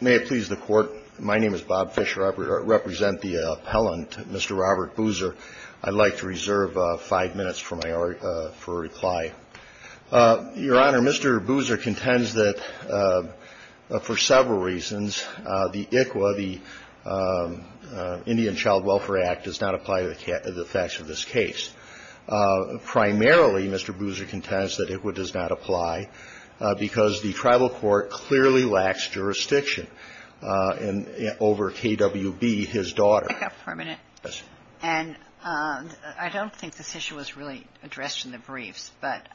May it please the Court, my name is Bob Fischer. I represent the appellant, Mr. Robert Boozer. I'd like to reserve Mr. Boozer's time for a few minutes to answer some of the questions that have been submitted to the Court. I have five minutes for my reply. Your Honor, Mr. Boozer contends that for several reasons, the ICWA, the Indian Child Welfare Act, does not apply to the facts of this case. Primarily, Mr. Boozer contends that ICWA does not apply because the tribal court clearly lacks jurisdiction over KWB, his daughter. And I don't think this issue was really addressed in the briefs, but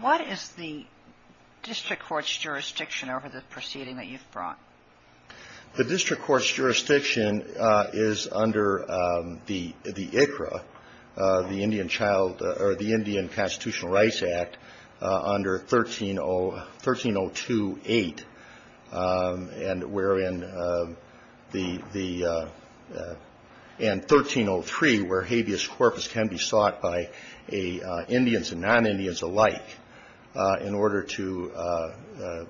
what is the district court's jurisdiction over the proceeding that you've brought? The district court's jurisdiction is under the ICRA, the Indian Child, or the Indian Constitutional Rights Act, under 13028, and 1303, where habeas corpus can be sought by Indians and non-Indians alike, in order to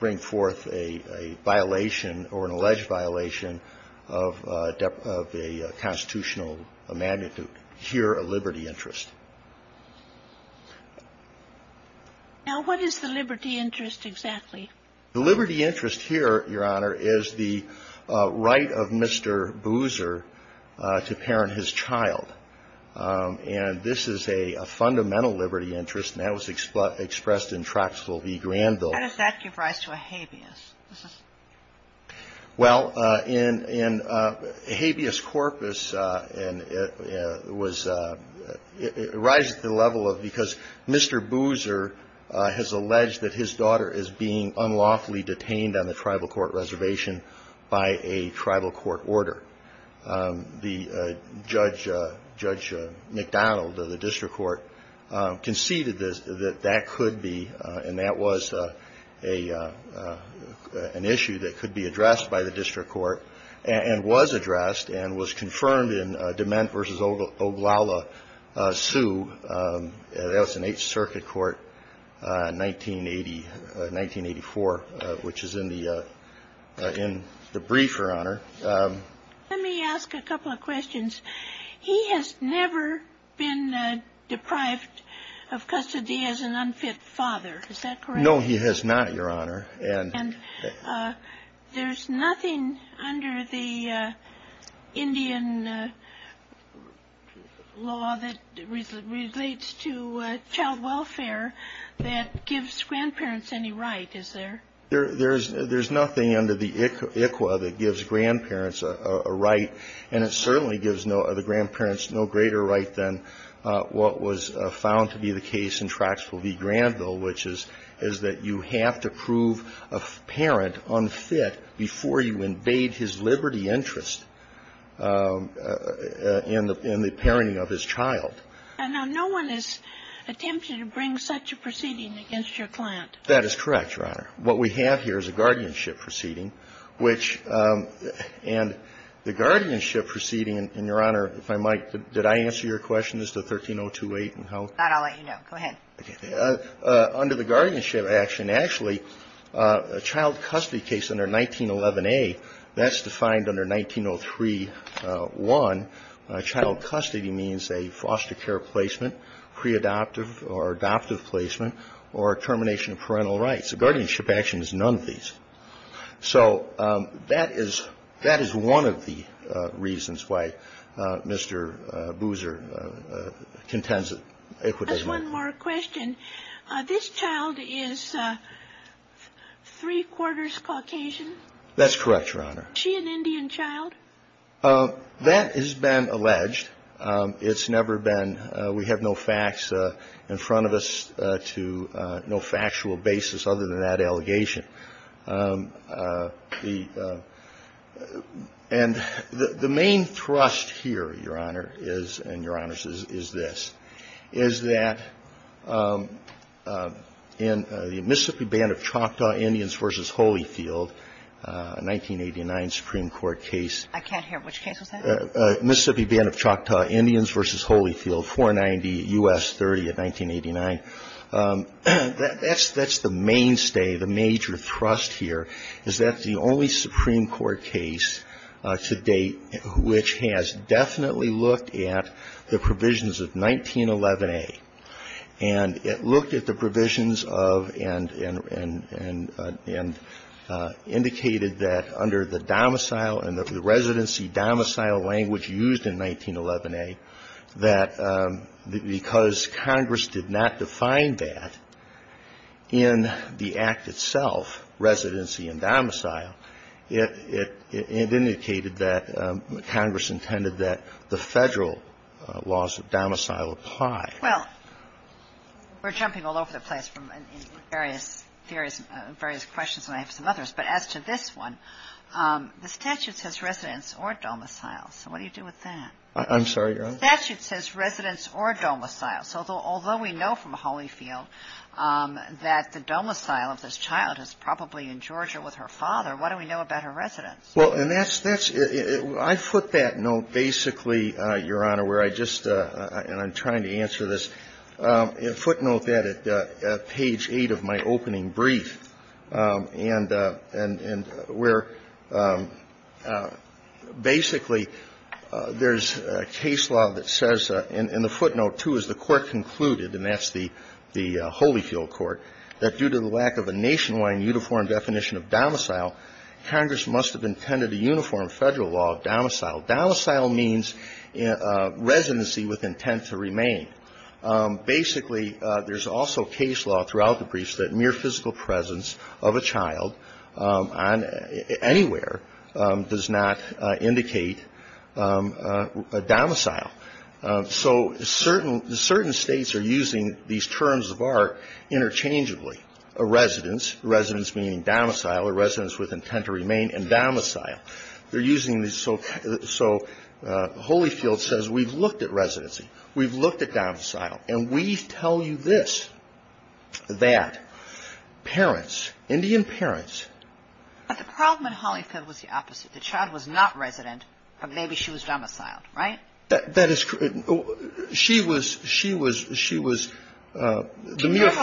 bring forth a violation or an alleged violation of a constitutional magnitude. Here, a liberty interest. Now, what is the liberty interest exactly? The liberty interest here, Your Honor, is the right of Mr. Boozer to parent his child. And this is a fundamental liberty interest, and that was expressed in Troxell v. Granville. How does that give rise to a habeas? Well, in habeas corpus, and it was, it rises to the level of because Mr. Boozer has alleged that his daughter is being unlawfully detained on the tribal court reservation by a tribal court order. The Judge McDonald of the district court conceded that that could be, and that was an issue that could be addressed by the district court, and was addressed and was confirmed in Dement v. Oglala, Sioux. That was in 8th Circuit Court, 1980, 1984, which is in the, in the brief, Your Honor. Let me ask a couple of questions. He has never been deprived of custody as an unfit father, is that correct? No, he has not, Your Honor. And there's nothing under the Indian law that relates to child welfare that gives grandparents any right, is there? There's nothing under the ICWA that gives grandparents a right, and it certainly gives the grandparents no greater right than what was found to be the case in Troxell v. Granville, which is that you have to prove a parent unfit before you invade his liberty interest in the parenting of his child. And no one is attempting to bring such a proceeding against your client. That is correct, Your Honor. What we have here is a guardianship proceeding, which, and the guardianship proceeding, and, Your Honor, if I might, did I answer your question as to 13028 and how? That I'll let you know. Go ahead. Okay. Under the guardianship action, actually, a child custody case under 1911a, that's defined under 1903.1. Child custody means a foster care placement, pre-adoptive or adoptive placement, or termination of parental rights. A guardianship action is none of these. So that is one of the reasons why Mr. Boozer contends that ICWA does not. Just one more question. This child is three-quarters Caucasian? That's correct, Your Honor. Is she an Indian child? That has been alleged. It's never been. We have no facts in front of us to no factual basis other than that allegation. And the main thrust here, Your Honor, is, and Your Honors, is this, is that in the Mississippi Band of Choctaw Indians v. Holyfield, a 1989 Supreme Court case. I can't hear. Which case was that? Mississippi Band of Choctaw Indians v. Holyfield, 490 U.S. 30 of 1989. That's the mainstay, the major thrust here, is that the only Supreme Court case to date which has definitely looked at the provisions of 1911A, and it looked at the provisions of and indicated that under the domicile and the residency domicile language used in 1911A, that because Congress did not define that in the Act itself, residency and domicile, it indicated that Congress intended that the Federal laws of domicile apply. Well, we're jumping all over the place from various questions, and I have some others. But as to this one, the statute says residence or domicile. So what do you do with that? I'm sorry, Your Honor? The statute says residence or domicile. So although we know from Holyfield that the domicile of this child is probably in Georgia with her father, what do we know about her residence? Well, and that's – I put that note basically, Your Honor, where I just – and I'm trying to answer this. And footnote that at page 8 of my opening brief, and where basically there's a case law that says – and the footnote, too, is the Court concluded, and that's the Holyfield Court, that due to the lack of a nationwide uniform definition of domicile, Congress must have intended a uniform Federal law of domicile. Domicile means residency with intent to remain. Basically, there's also case law throughout the briefs that mere physical presence of a child on – anywhere does not indicate a domicile. So certain – certain States are using these terms of art interchangeably. A residence, residence meaning domicile, a residence with intent to remain, and domicile. They're using these – so Holyfield says we've looked at residency. We've looked at domicile. And we tell you this, that parents, Indian parents – But the problem in Holyfield was the opposite. The child was not resident, but maybe she was domiciled, right? That is – she was – she was – she was – She never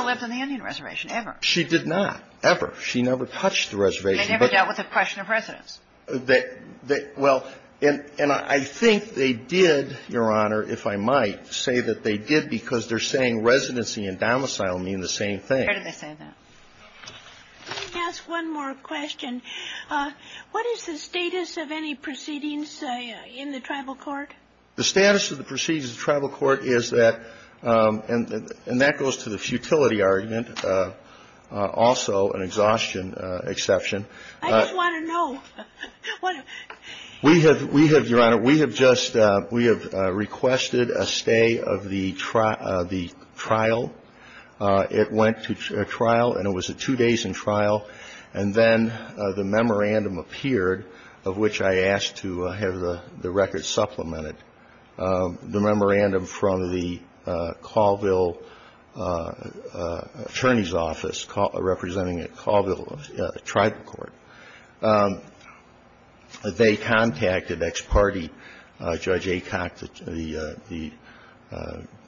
lived on the Indian reservation, ever. She did not, ever. She never touched the reservation. They never dealt with the question of residence. They – well, and I think they did, Your Honor, if I might, say that they did because they're saying residency and domicile mean the same thing. Where did they say that? Let me ask one more question. What is the status of any proceedings in the tribal court? The status of the proceedings in the tribal court is that – and that goes to the futility argument, also an exhaustion exception. I just want to know. We have – we have, Your Honor, we have just – we have requested a stay of the trial. It went to trial, and it was two days in trial. And then the memorandum appeared, of which I asked to have the record supplemented. The memorandum from the Colville Attorney's Office, representing at Colville Tribal Court. They contacted ex parte Judge Acock,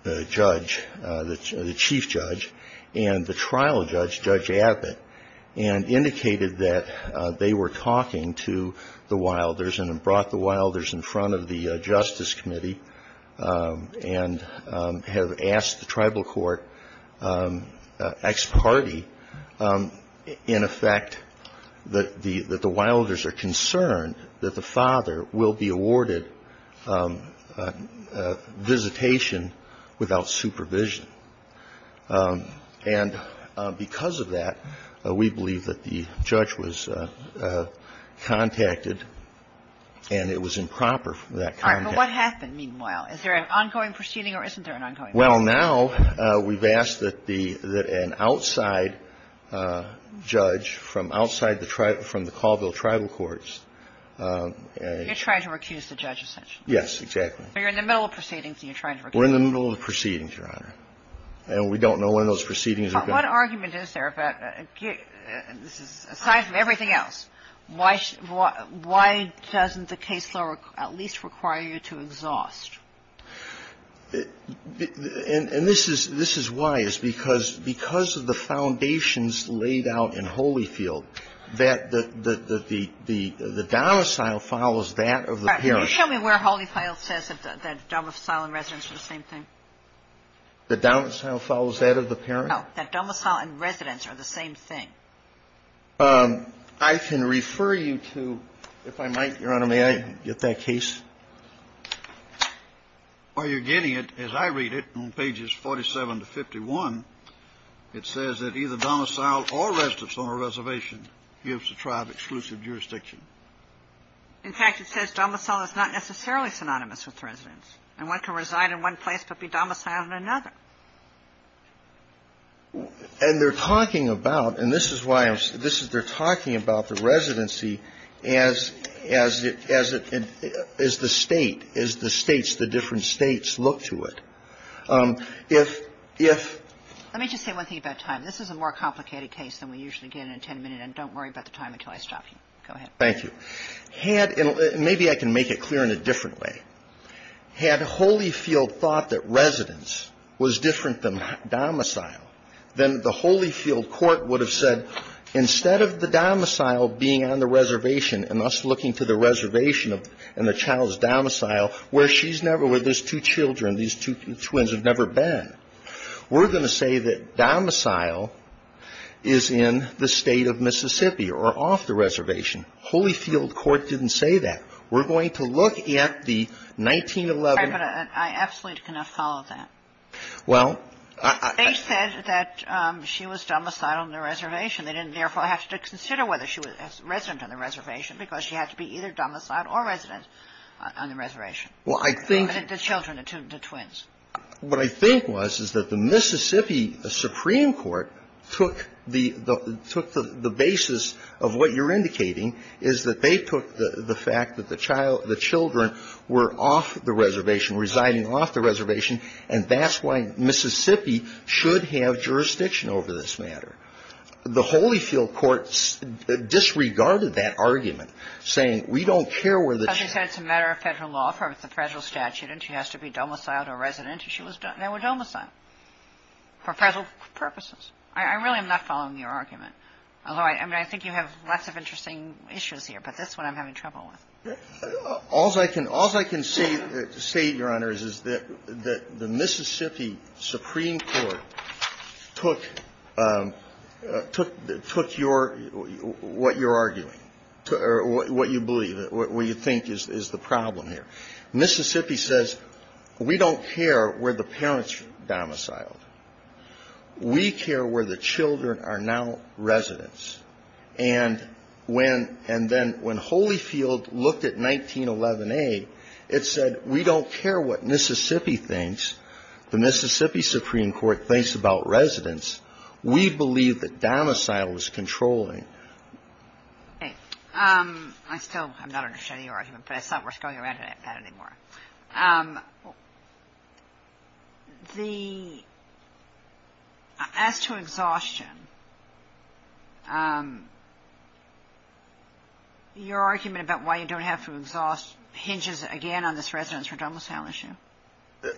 the judge, the chief judge, and the trial judge, Judge Abbott, and indicated that they were talking to the Wilders and brought the Wilders in front of the Justice Committee and have asked the tribal court ex parte, in effect, that the Wilders are concerned that the father will be awarded visitation without supervision. And because of that, we believe that the judge was contacted, and it was improper for that contact. But what happened, meanwhile? Is there an ongoing proceeding, or isn't there an ongoing proceeding? Well, now, we've asked that the – that an outside judge from outside the – from the Colville Tribal Courts, a – You're trying to recuse the judge, essentially. Yes, exactly. So you're in the middle of proceedings, and you're trying to recuse him. We're in the middle of the proceedings, Your Honor. And we don't know when those proceedings are going to be. But what argument is there about – aside from everything else, why – why doesn't the case law at least require you to exhaust? And this is – this is why, is because – because of the foundations laid out in Holyfield that the – that the domicile follows that of the parent. All right. Can you show me where Holyfield says that domicile and residence are the same thing? The domicile follows that of the parent? That domicile and residence are the same thing. I can refer you to, if I might, Your Honor, may I get that case? While you're getting it, as I read it on pages 47 to 51, it says that either domicile or residence on a reservation gives the tribe exclusive jurisdiction. In fact, it says domicile is not necessarily synonymous with residence. And one can reside in one place but be domiciled in another. And they're talking about – and this is why I'm – this is – they're talking about the residency as – as it – as it – as the State, as the States, the different States look to it. If – if – Let me just say one thing about time. This is a more complicated case than we usually get in a 10-minute, and don't worry about the time until I stop you. Go ahead. Thank you. Had – and maybe I can make it clear in a different way. Had Holyfield thought that residence was different than domicile, then the Holyfield court would have said, instead of the domicile being on the reservation and us looking to the reservation and the child's domicile where she's never – where there's two children, these two twins have never been, we're going to say that domicile is in the State of Mississippi or off the reservation. Holyfield court didn't say that. We're going to look at the 1911 – I absolutely cannot follow that. Well – They said that she was domiciled on the reservation. They didn't, therefore, have to consider whether she was resident on the reservation because she had to be either domiciled or resident on the reservation. Well, I think – The children, the twins. What I think was is that the Mississippi Supreme Court took the – took the basis of what you're indicating is that they took the fact that the children were off the reservation, residing off the reservation, and that's why Mississippi should have jurisdiction over this matter. The Holyfield court disregarded that argument, saying, we don't care whether – Because you said it's a matter of Federal law, it's a Federal statute, and she has to be domiciled or resident if she was – they were domiciled for Federal purposes. I really am not following your argument. Although, I mean, I think you have lots of interesting issues here, but that's what I'm having trouble with. All's I can say, Your Honor, is that the Mississippi Supreme Court took your – what you're arguing, or what you believe, what you think is the problem here. Mississippi says, we don't care where the parents were domiciled. We care where the children are now residents. And when – and then when Holyfield looked at 1911a, it said, we don't care what Mississippi thinks. The Mississippi Supreme Court thinks about residents. We believe that domicile is controlling. Okay. I still am not understanding your argument, but it's not worth going around about it anymore. The – as to exhaustion, your argument about why you don't have to exhaust hinges again on this residents were domiciled issue.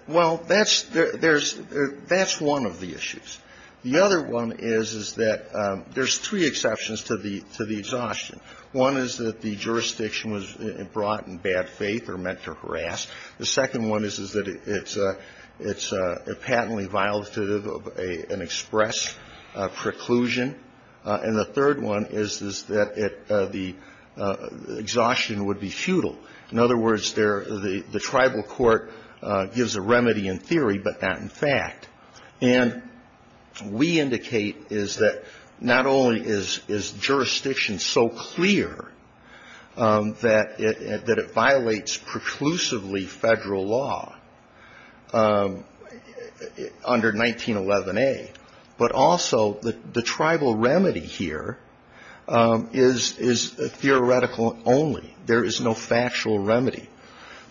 Well, that's – there's – that's one of the issues. The other one is, is that there's three exceptions to the – to the exhaustion. One is that the jurisdiction was brought in bad faith or meant to harass. The second one is, is that it's a – it's a patently violative of an express preclusion. And the third one is, is that it – the exhaustion would be futile. In other words, there – the tribal court gives a remedy in theory, but not in fact. And we indicate is that not only is jurisdiction so clear that it violates preclusively federal law under 1911a, but also the tribal remedy here is theoretical only. There is no factual remedy.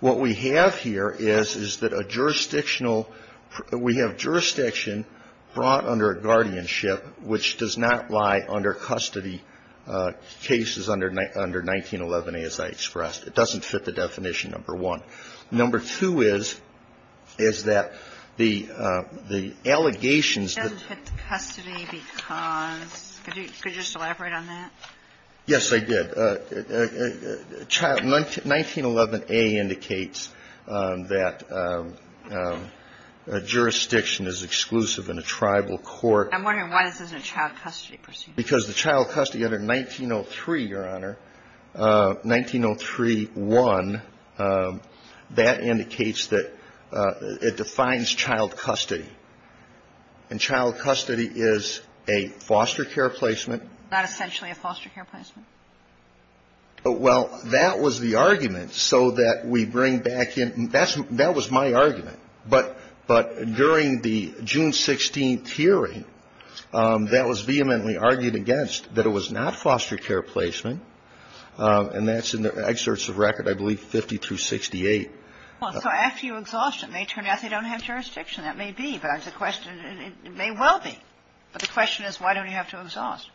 What we have here is, is that a jurisdictional – we have jurisdiction brought under a guardianship which does not lie under custody cases under 1911a, as I expressed. It doesn't fit the definition, number one. Number two is, is that the allegations that – It doesn't fit the custody because – could you just elaborate on that? Yes, I did. Child – 1911a indicates that jurisdiction is exclusive in a tribal court. I'm wondering why this isn't a child custody procedure. Because the child custody under 1903, Your Honor, 1903-1, that indicates that it defines child custody. And child custody is a foster care placement. Not essentially a foster care placement. Well, that was the argument so that we bring back in – that was my argument. But during the June 16th hearing, that was vehemently argued against, that it was not foster care placement. And that's in the excerpts of record, I believe, 50 through 68. Well, so after you exhaust it, it may turn out they don't have jurisdiction. That may be. But the question – it may well be. But the question is, why don't you have to exhaust?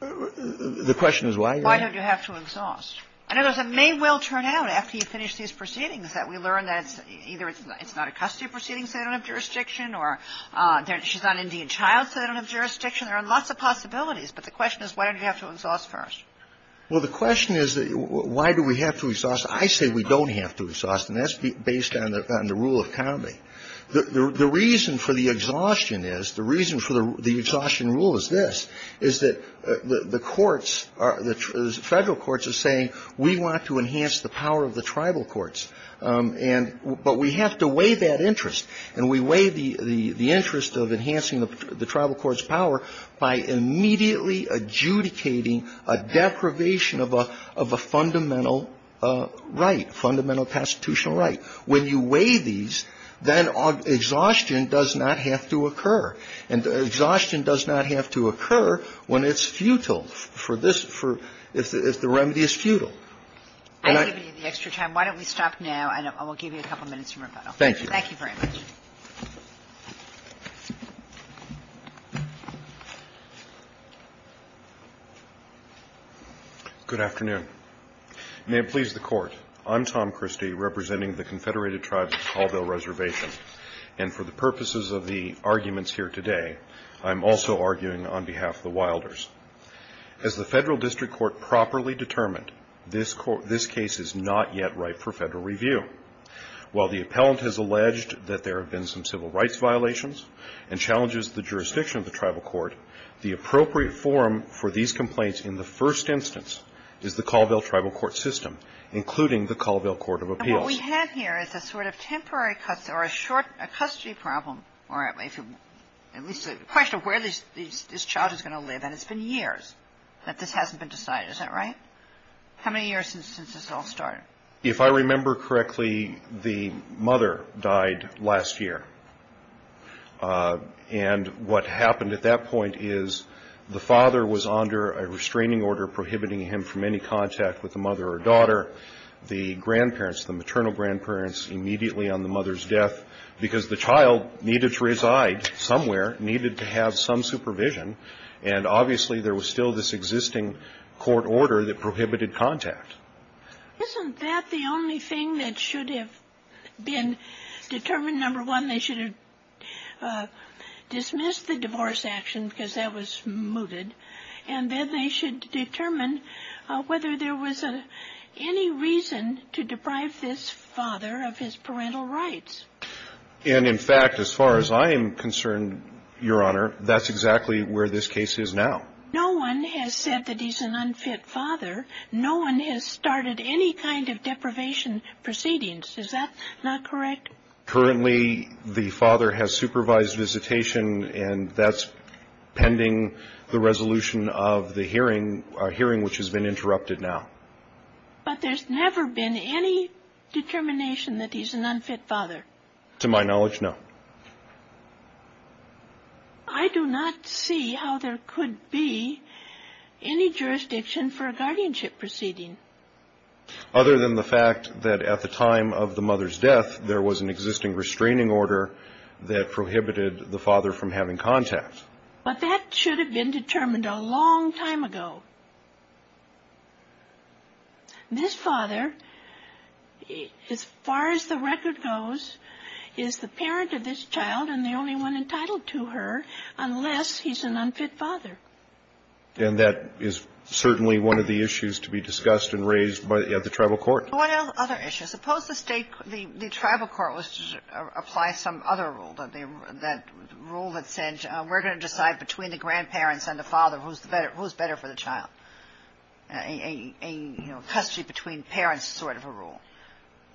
The question is why? Why don't you have to exhaust? In other words, it may well turn out, after you finish these proceedings, that we learn that either it's not a custody proceeding, so they don't have jurisdiction, or she's not an Indian child, so they don't have jurisdiction. There are lots of possibilities. But the question is, why don't you have to exhaust first? Well, the question is, why do we have to exhaust? I say we don't have to exhaust, and that's based on the rule of county. The reason for the exhaustion is, the reason for the exhaustion rule is this, is that the courts are – the Federal courts are saying, we want to enhance the power of the tribal courts, and – but we have to weigh that interest. And we weigh the interest of enhancing the tribal court's power by immediately adjudicating a deprivation of a fundamental right, fundamental constitutional right. When you weigh these, then exhaustion does not have to occur. And exhaustion does not have to occur when it's futile. For this – if the remedy is futile. And I – I'm giving you the extra time. Why don't we stop now, and we'll give you a couple minutes for rebuttal. Thank you. Thank you very much. Good afternoon. May it please the Court. I'm Tom Christie, representing the Confederated Tribes of Colville Reservation. And for the purposes of the arguments here today, I'm also arguing on behalf of the Wilders. As the Federal District Court properly determined, this case is not yet ripe for Federal review. While the appellant has alleged that there have been some civil rights violations, and challenges the jurisdiction of the tribal court, the appropriate forum for these complaints in the first instance is the Colville Tribal Court System, including the Colville Court of Appeals. And what we have here is a sort of temporary – or a short – a custody problem. Or at least a question of where this child is going to live. And it's been years that this hasn't been decided. Is that right? How many years since this all started? If I remember correctly, the mother died last year. And what happened at that point is the father was under a restraining order prohibiting him from any contact with the mother or daughter. The grandparents, the maternal grandparents, immediately on the mother's death, because the child needed to reside somewhere, needed to have some supervision. And obviously there was still this existing court order that prohibited contact. Isn't that the only thing that should have been determined? Number one, they should have dismissed the divorce action because that was mooted. And then they should determine whether there was any reason to deprive this father of his parental rights. And, in fact, as far as I am concerned, Your Honor, that's exactly where this case is now. No one has said that he's an unfit father. No one has started any kind of deprivation proceedings. Is that not correct? Currently, the father has supervised visitation, and that's pending the resolution of the hearing, a hearing which has been interrupted now. But there's never been any determination that he's an unfit father? To my knowledge, no. I do not see how there could be any jurisdiction for a guardianship proceeding. Other than the fact that at the time of the mother's death, there was an existing restraining order that prohibited the father from having contact. But that should have been determined a long time ago. This father, as far as the record goes, is the parent of this child and the only one entitled to her unless he's an unfit father. And that is certainly one of the issues to be discussed and raised by the tribal court. One other issue. Suppose the state, the tribal court, was to apply some other rule, that rule that said, we're going to decide between the grandparents and the father who's better for the child. A custody between parents sort of a rule.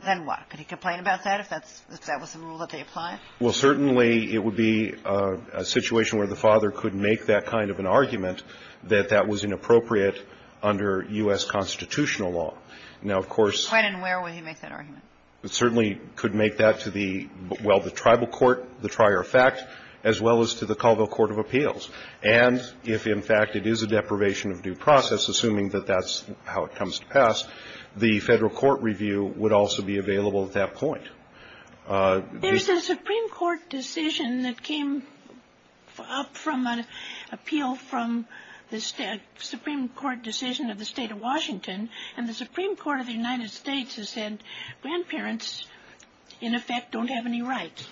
Then what? Could he complain about that if that was the rule that they applied? Well, certainly it would be a situation where the father could make that kind of an argument that that was inappropriate under U.S. constitutional law. Now, of course. When and where would he make that argument? It certainly could make that to the, well, the tribal court, the trier of fact, as well as to the Colville Court of Appeals. And if, in fact, it is a deprivation of due process, assuming that that's how it comes to pass, the Federal Court review would also be available at that point. There's a Supreme Court decision that came up from an appeal from the Supreme Court decision of the State of Washington, and the Supreme Court of the United States has said grandparents, in effect, don't have any rights.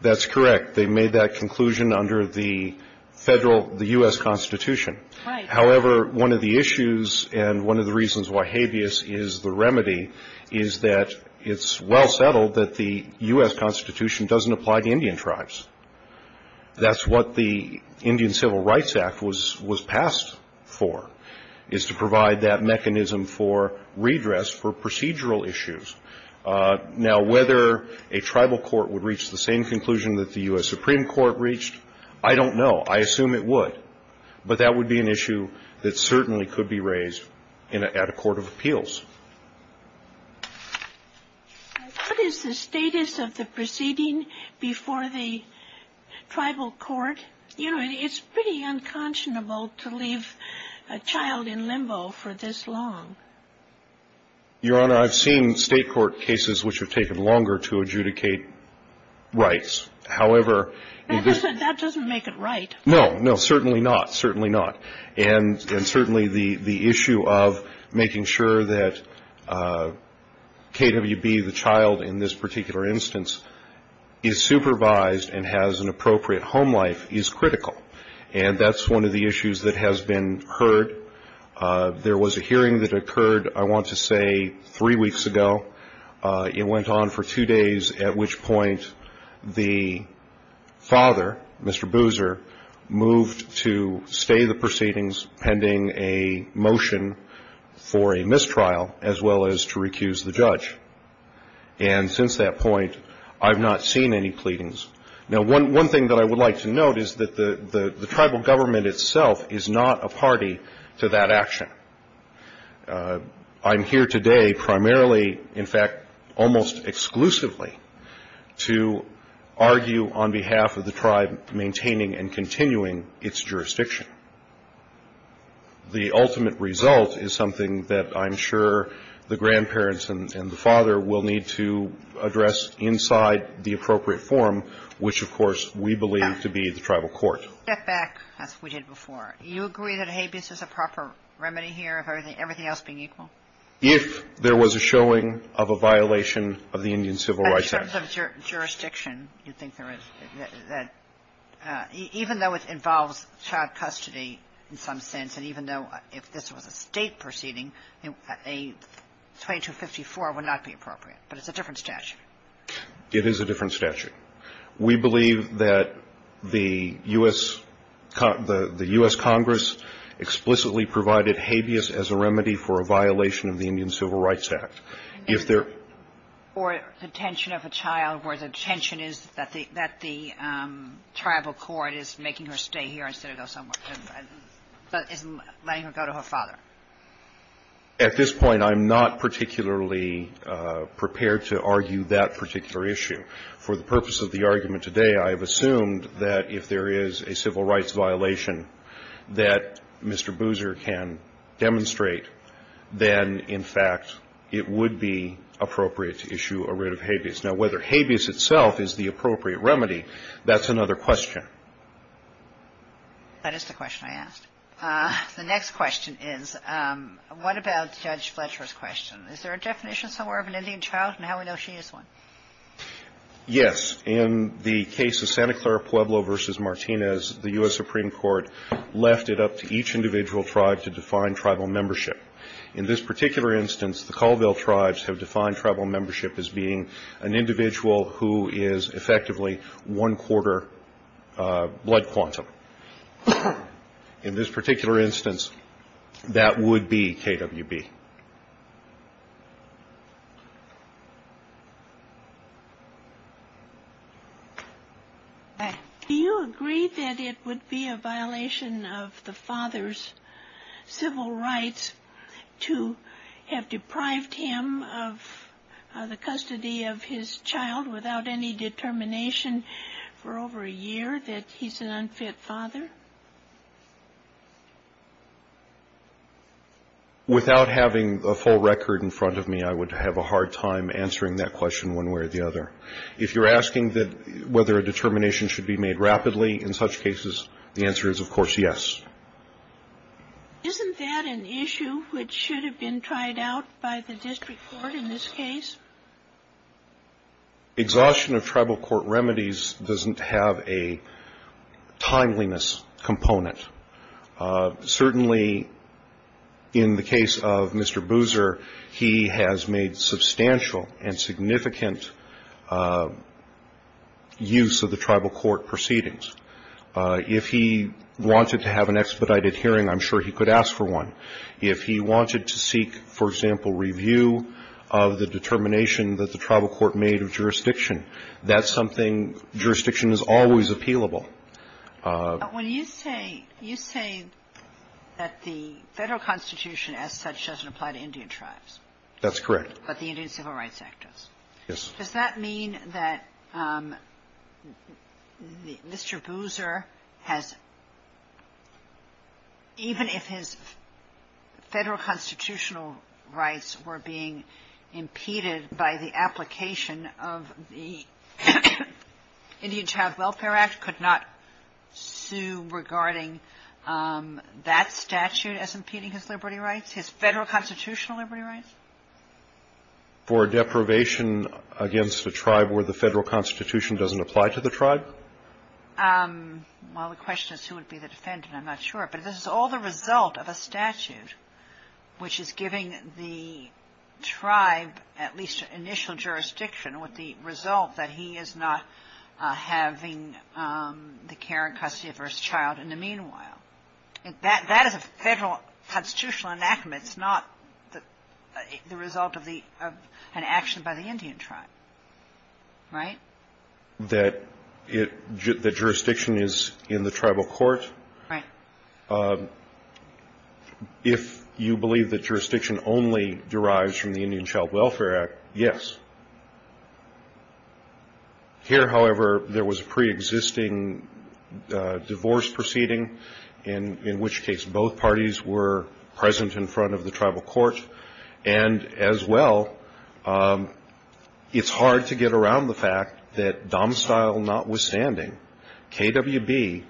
That's correct. They made that conclusion under the Federal, the U.S. Constitution. Right. However, one of the issues and one of the reasons why habeas is the remedy is that it's well settled that the U.S. Constitution doesn't apply to Indian tribes. That's what the Indian Civil Rights Act was passed for. It's to provide that mechanism for redress for procedural issues. Now, whether a tribal court would reach the same conclusion that the U.S. Supreme Court reached, I don't know. I assume it would. But that would be an issue that certainly could be raised at a court of appeals. What is the status of the proceeding before the tribal court? You know, it's pretty unconscionable to leave a child in limbo for this long. Your Honor, I've seen state court cases which have taken longer to adjudicate rights. However — That doesn't make it right. No. No, certainly not. Certainly not. And certainly the issue of making sure that KWB, the child in this particular instance, is supervised and has an appropriate home life is critical. And that's one of the issues that has been heard. There was a hearing that occurred, I want to say, three weeks ago. It went on for two days, at which point the father, Mr. Boozer, moved to stay the proceedings pending a motion for a mistrial as well as to recuse the judge. And since that point, I've not seen any pleadings. Now, one thing that I would like to note is that the tribal government itself is not a party to that action. I'm here today primarily, in fact, almost exclusively, to argue on behalf of the tribe maintaining and continuing its jurisdiction. The ultimate result is something that I'm sure the grandparents and the father will need to address inside the appropriate forum, which, of course, we believe to be the tribal court. Step back, as we did before. You agree that habeas is a proper remedy here, everything else being equal? If there was a showing of a violation of the Indian Civil Rights Act. In terms of jurisdiction, you think there is, that even though it involves child custody in some sense, and even though if this was a State proceeding, a 2254 would not be appropriate. But it's a different statute. It is a different statute. We believe that the U.S. Congress explicitly provided habeas as a remedy for a violation of the Indian Civil Rights Act. If there. Or the detention of a child where the detention is that the tribal court is making her stay here instead of go somewhere. But isn't letting her go to her father. At this point, I'm not particularly prepared to argue that particular issue. For the purpose of the argument today, I have assumed that if there is a civil rights violation that Mr. Boozer can demonstrate, then, in fact, it would be appropriate to issue a writ of habeas. Now, whether habeas itself is the appropriate remedy, that's another question. That is the question I asked. The next question is, what about Judge Fletcher's question? Is there a definition somewhere of an Indian child and how we know she is one? Yes. In the case of Santa Clara Pueblo versus Martinez, the U.S. Supreme Court left it up to each individual tribe to define tribal membership. In this particular instance, the Colville tribes have defined tribal membership as being an individual who is effectively one quarter blood quantum. In this particular instance, that would be KWB. Do you agree that it would be a violation of the father's civil rights to have deprived him of the custody of his child without any determination for over a year that he's an unfit father? Without having a full record in front of me, I would have a hard time answering that question one way or the other. If you're asking whether a determination should be made rapidly in such cases, the answer is, of course, yes. Isn't that an issue which should have been tried out by the district court in this case? Exhaustion of tribal court remedies doesn't have a timeliness component. Certainly, in the case of Mr. Boozer, he has made substantial and significant use of the tribal court proceedings. If he wanted to have an expedited hearing, I'm sure he could ask for one. If he wanted to seek, for example, review of the determination that the tribal court made of jurisdiction, that's something jurisdiction is always appealable. When you say, you say that the Federal Constitution as such doesn't apply to Indian tribes. That's correct. But the Indian Civil Rights Act does. Yes. Does that mean that Mr. Boozer has, even if his Federal constitutional rights were being impeded by the application of the Indian Child Welfare Act, could not sue regarding that statute as impeding his liberty rights, his Federal constitutional liberty rights? For deprivation against a tribe where the Federal Constitution doesn't apply to the tribe? Well, the question is who would be the defendant. I'm not sure. But if this is all the result of a statute which is giving the tribe at least initial jurisdiction with the result that he is not having the care and custody of her child in the meanwhile, that is a Federal constitutional enactment. It's not the result of an action by the Indian tribe. Right? That jurisdiction is in the tribal court? Right. If you believe that jurisdiction only derives from the Indian Child Welfare Act, yes. Here, however, there was a preexisting divorce proceeding, in which case both parties were present in front of the tribal court. And as well, it's hard to get around the fact that domicile notwithstanding, KWB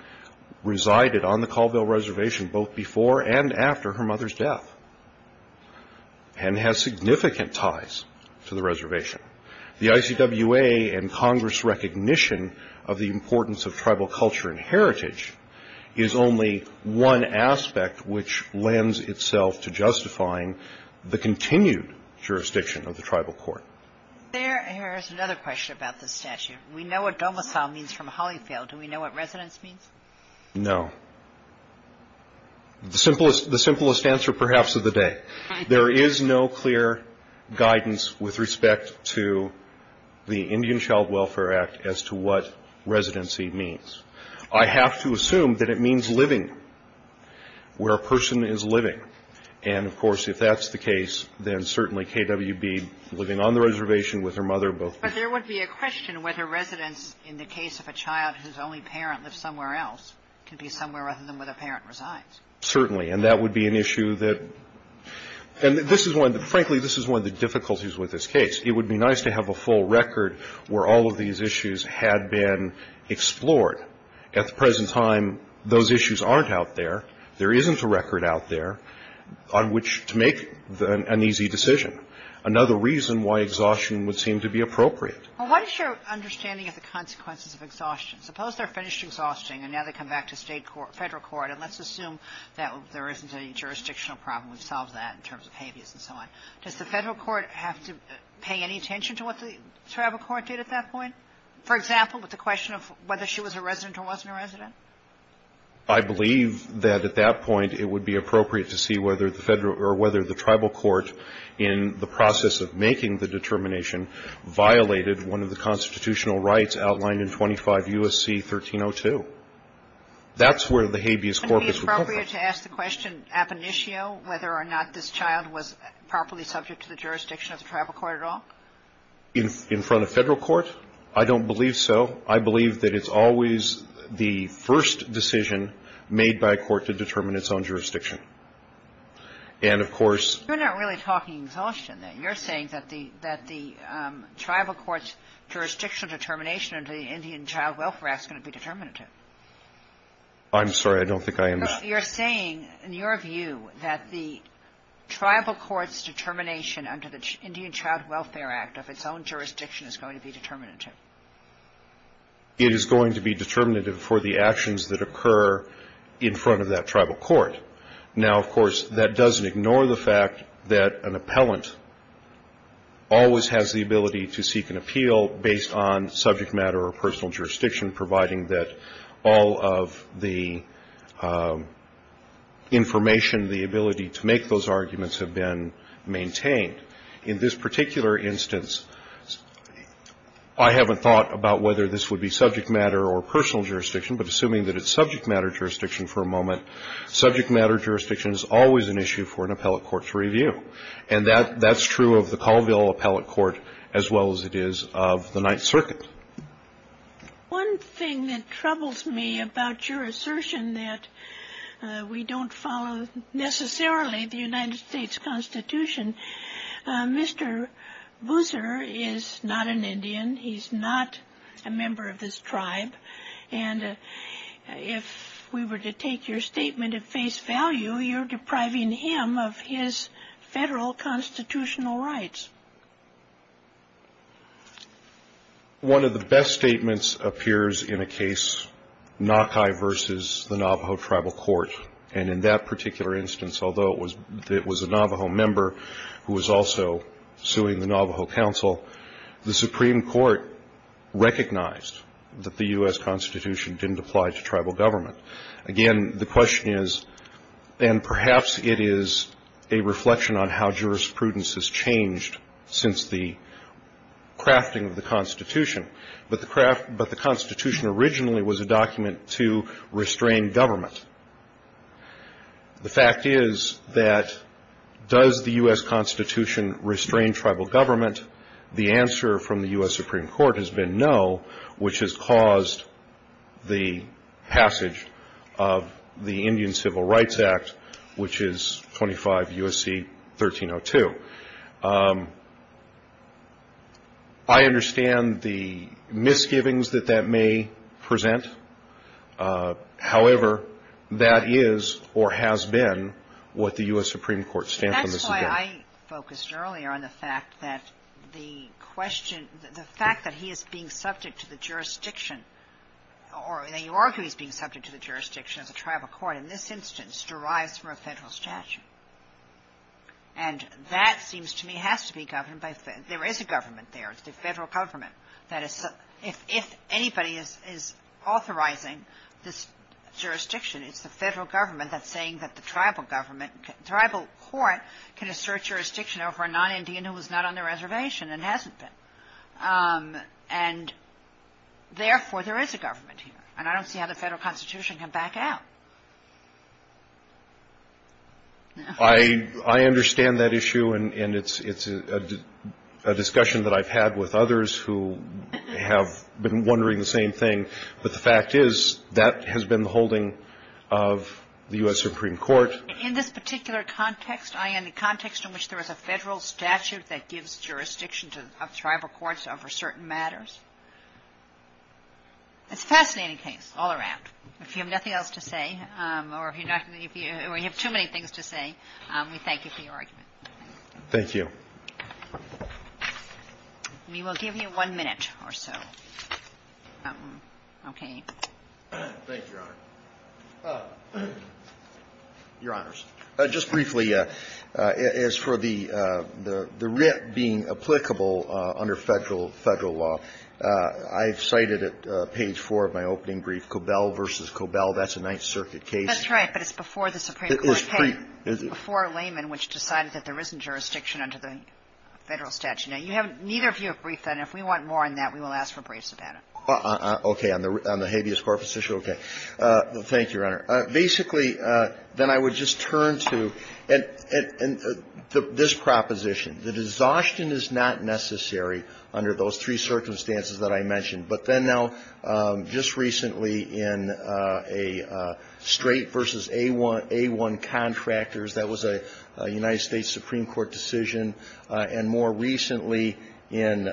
resided on the Colville Reservation both before and after her mother's death and has significant ties to the reservation. The ICWA and Congress recognition of the importance of tribal culture and heritage is only one aspect which lends itself to justifying the continued jurisdiction of the tribal court. There is another question about this statute. We know what domicile means from Holyfield. Do we know what residence means? No. The simplest answer, perhaps, of the day. There is no clear guidance with respect to the Indian Child Welfare Act as to what residency means. I have to assume that it means living where a person is living. And, of course, if that's the case, then certainly KWB living on the reservation with her mother both before and after. But there would be a question whether residence in the case of a child whose only parent lives somewhere else can be somewhere other than where the parent resides. Certainly. And that would be an issue that — and this is one — frankly, this is one of the difficulties with this case. It would be nice to have a full record where all of these issues had been explored. At the present time, those issues aren't out there. There isn't a record out there on which to make an easy decision. Another reason why exhaustion would seem to be appropriate. Well, what is your understanding of the consequences of exhaustion? Suppose they're finished exhausting, and now they come back to state court — federal court. And let's assume that there isn't any jurisdictional problem. We've solved that in terms of habeas and so on. Does the federal court have to pay any attention to what the tribal court did at that point? For example, with the question of whether she was a resident or wasn't a resident? I believe that, at that point, it would be appropriate to see whether the federal — or whether the tribal court, in the process of making the determination, violated one of the constitutional rights outlined in 25 U.S.C. 1302. That's where the habeas corpus would come from. Wouldn't it be appropriate to ask the question, ab initio, whether or not this child was properly subject to the jurisdiction of the tribal court at all? In front of federal court? I don't believe so. I believe that it's always the first decision made by a court to determine its own jurisdiction. And, of course — You're not really talking exhaustion there. You're saying that the tribal court's jurisdictional determination under the Indian Child Welfare Act is going to be determinative. I'm sorry. I don't think I am — You're saying, in your view, that the tribal court's determination under the Indian Child Welfare Act of its own jurisdiction is going to be determinative. It is going to be determinative for the actions that occur in front of that tribal court. Now, of course, that doesn't ignore the fact that an appellant always has the ability to seek an appeal based on subject matter or personal jurisdiction, providing that all of the information, the ability to make those arguments, have been maintained. In this particular instance, I haven't thought about whether this would be subject matter or personal jurisdiction, but assuming that it's subject matter jurisdiction for a moment, subject matter jurisdiction is always an issue for an appellate court to review. And that's true of the Colville Appellate Court as well as it is of the Ninth Circuit. One thing that troubles me about your assertion that we don't follow necessarily the United States Constitution, Mr. Boozer is not an Indian. He's not a member of this tribe. And if we were to take your statement at face value, you're depriving him of his federal constitutional rights. One of the best statements appears in a case, Naukai versus the Navajo Tribal Court. And in that particular instance, although it was a Navajo member who was also suing the Navajo Council, the Supreme Court recognized that the U.S. Constitution didn't apply to tribal government. Again, the question is, and perhaps it is a reflection on how jurisprudence has changed since the crafting of the Constitution, but the Constitution originally was a document to restrain government. The fact is that does the U.S. Constitution restrain tribal government? The answer from the U.S. Supreme Court has been no, which has caused the passage of the Indian Civil Rights Act, which is 25 U.S.C. 1302. I understand the misgivings that that may present. However, that is or has been what the U.S. Supreme Court stands on this event. That's why I focused earlier on the fact that the question – the fact that he is being subject to the jurisdiction or that you argue he's being subject to the jurisdiction as a tribal court in this instance derives from a federal statute. And that seems to me has to be governed by – there is a government there. It's the federal government that is – if anybody is authorizing this jurisdiction, it's the federal government that's saying that the tribal government – tribal court can assert jurisdiction over a non-Indian who is not on the reservation and hasn't been. And therefore, there is a government here. And I don't see how the federal Constitution can back out. I understand that issue, and it's a discussion that I've had with others who have been wondering the same thing. But the fact is, that has been the holding of the U.S. Supreme Court. In this particular context, i.e., in the context in which there is a federal statute that gives jurisdiction to tribal courts over certain matters, it's a fascinating case all around. If you have nothing else to say, or if you have too many things to say, we thank you for your argument. Thank you. We will give you one minute or so. Okay. Thank you, Your Honor. Your Honors. Just briefly, as for the writ being applicable under federal law, I've cited at page 4 of my opening brief, the case of Cobell v. Cobell, that's a Ninth Circuit case. That's right, but it's before the Supreme Court came, before layman, which decided that there isn't jurisdiction under the federal statute. Now, you haven't ñ neither of you have briefed on it. If we want more on that, we will ask for briefs about it. Okay. On the habeas corpus issue? Okay. Thank you, Your Honor. Basically, then I would just turn to this proposition. The disaustion is not necessary under those three circumstances that I mentioned. But then now, just recently in a straight versus A1 contractors, that was a United States Supreme Court decision, and more recently in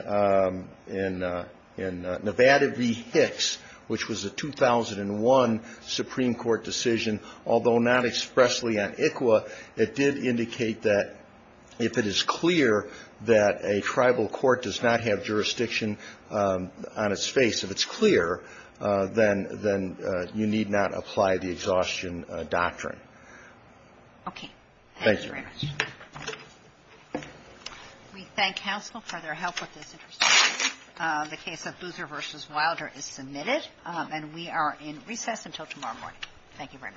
Nevada v. Hicks, which was a 2001 Supreme Court decision, although not expressly on ICWA, it did indicate that if it is clear that a tribal court does not have jurisdiction on its face, if it's clear, then you need not apply the exhaustion doctrine. Okay. Thank you. Thank you very much. We thank counsel for their help with this. The case of Boozer v. Wilder is submitted. Thank you very much.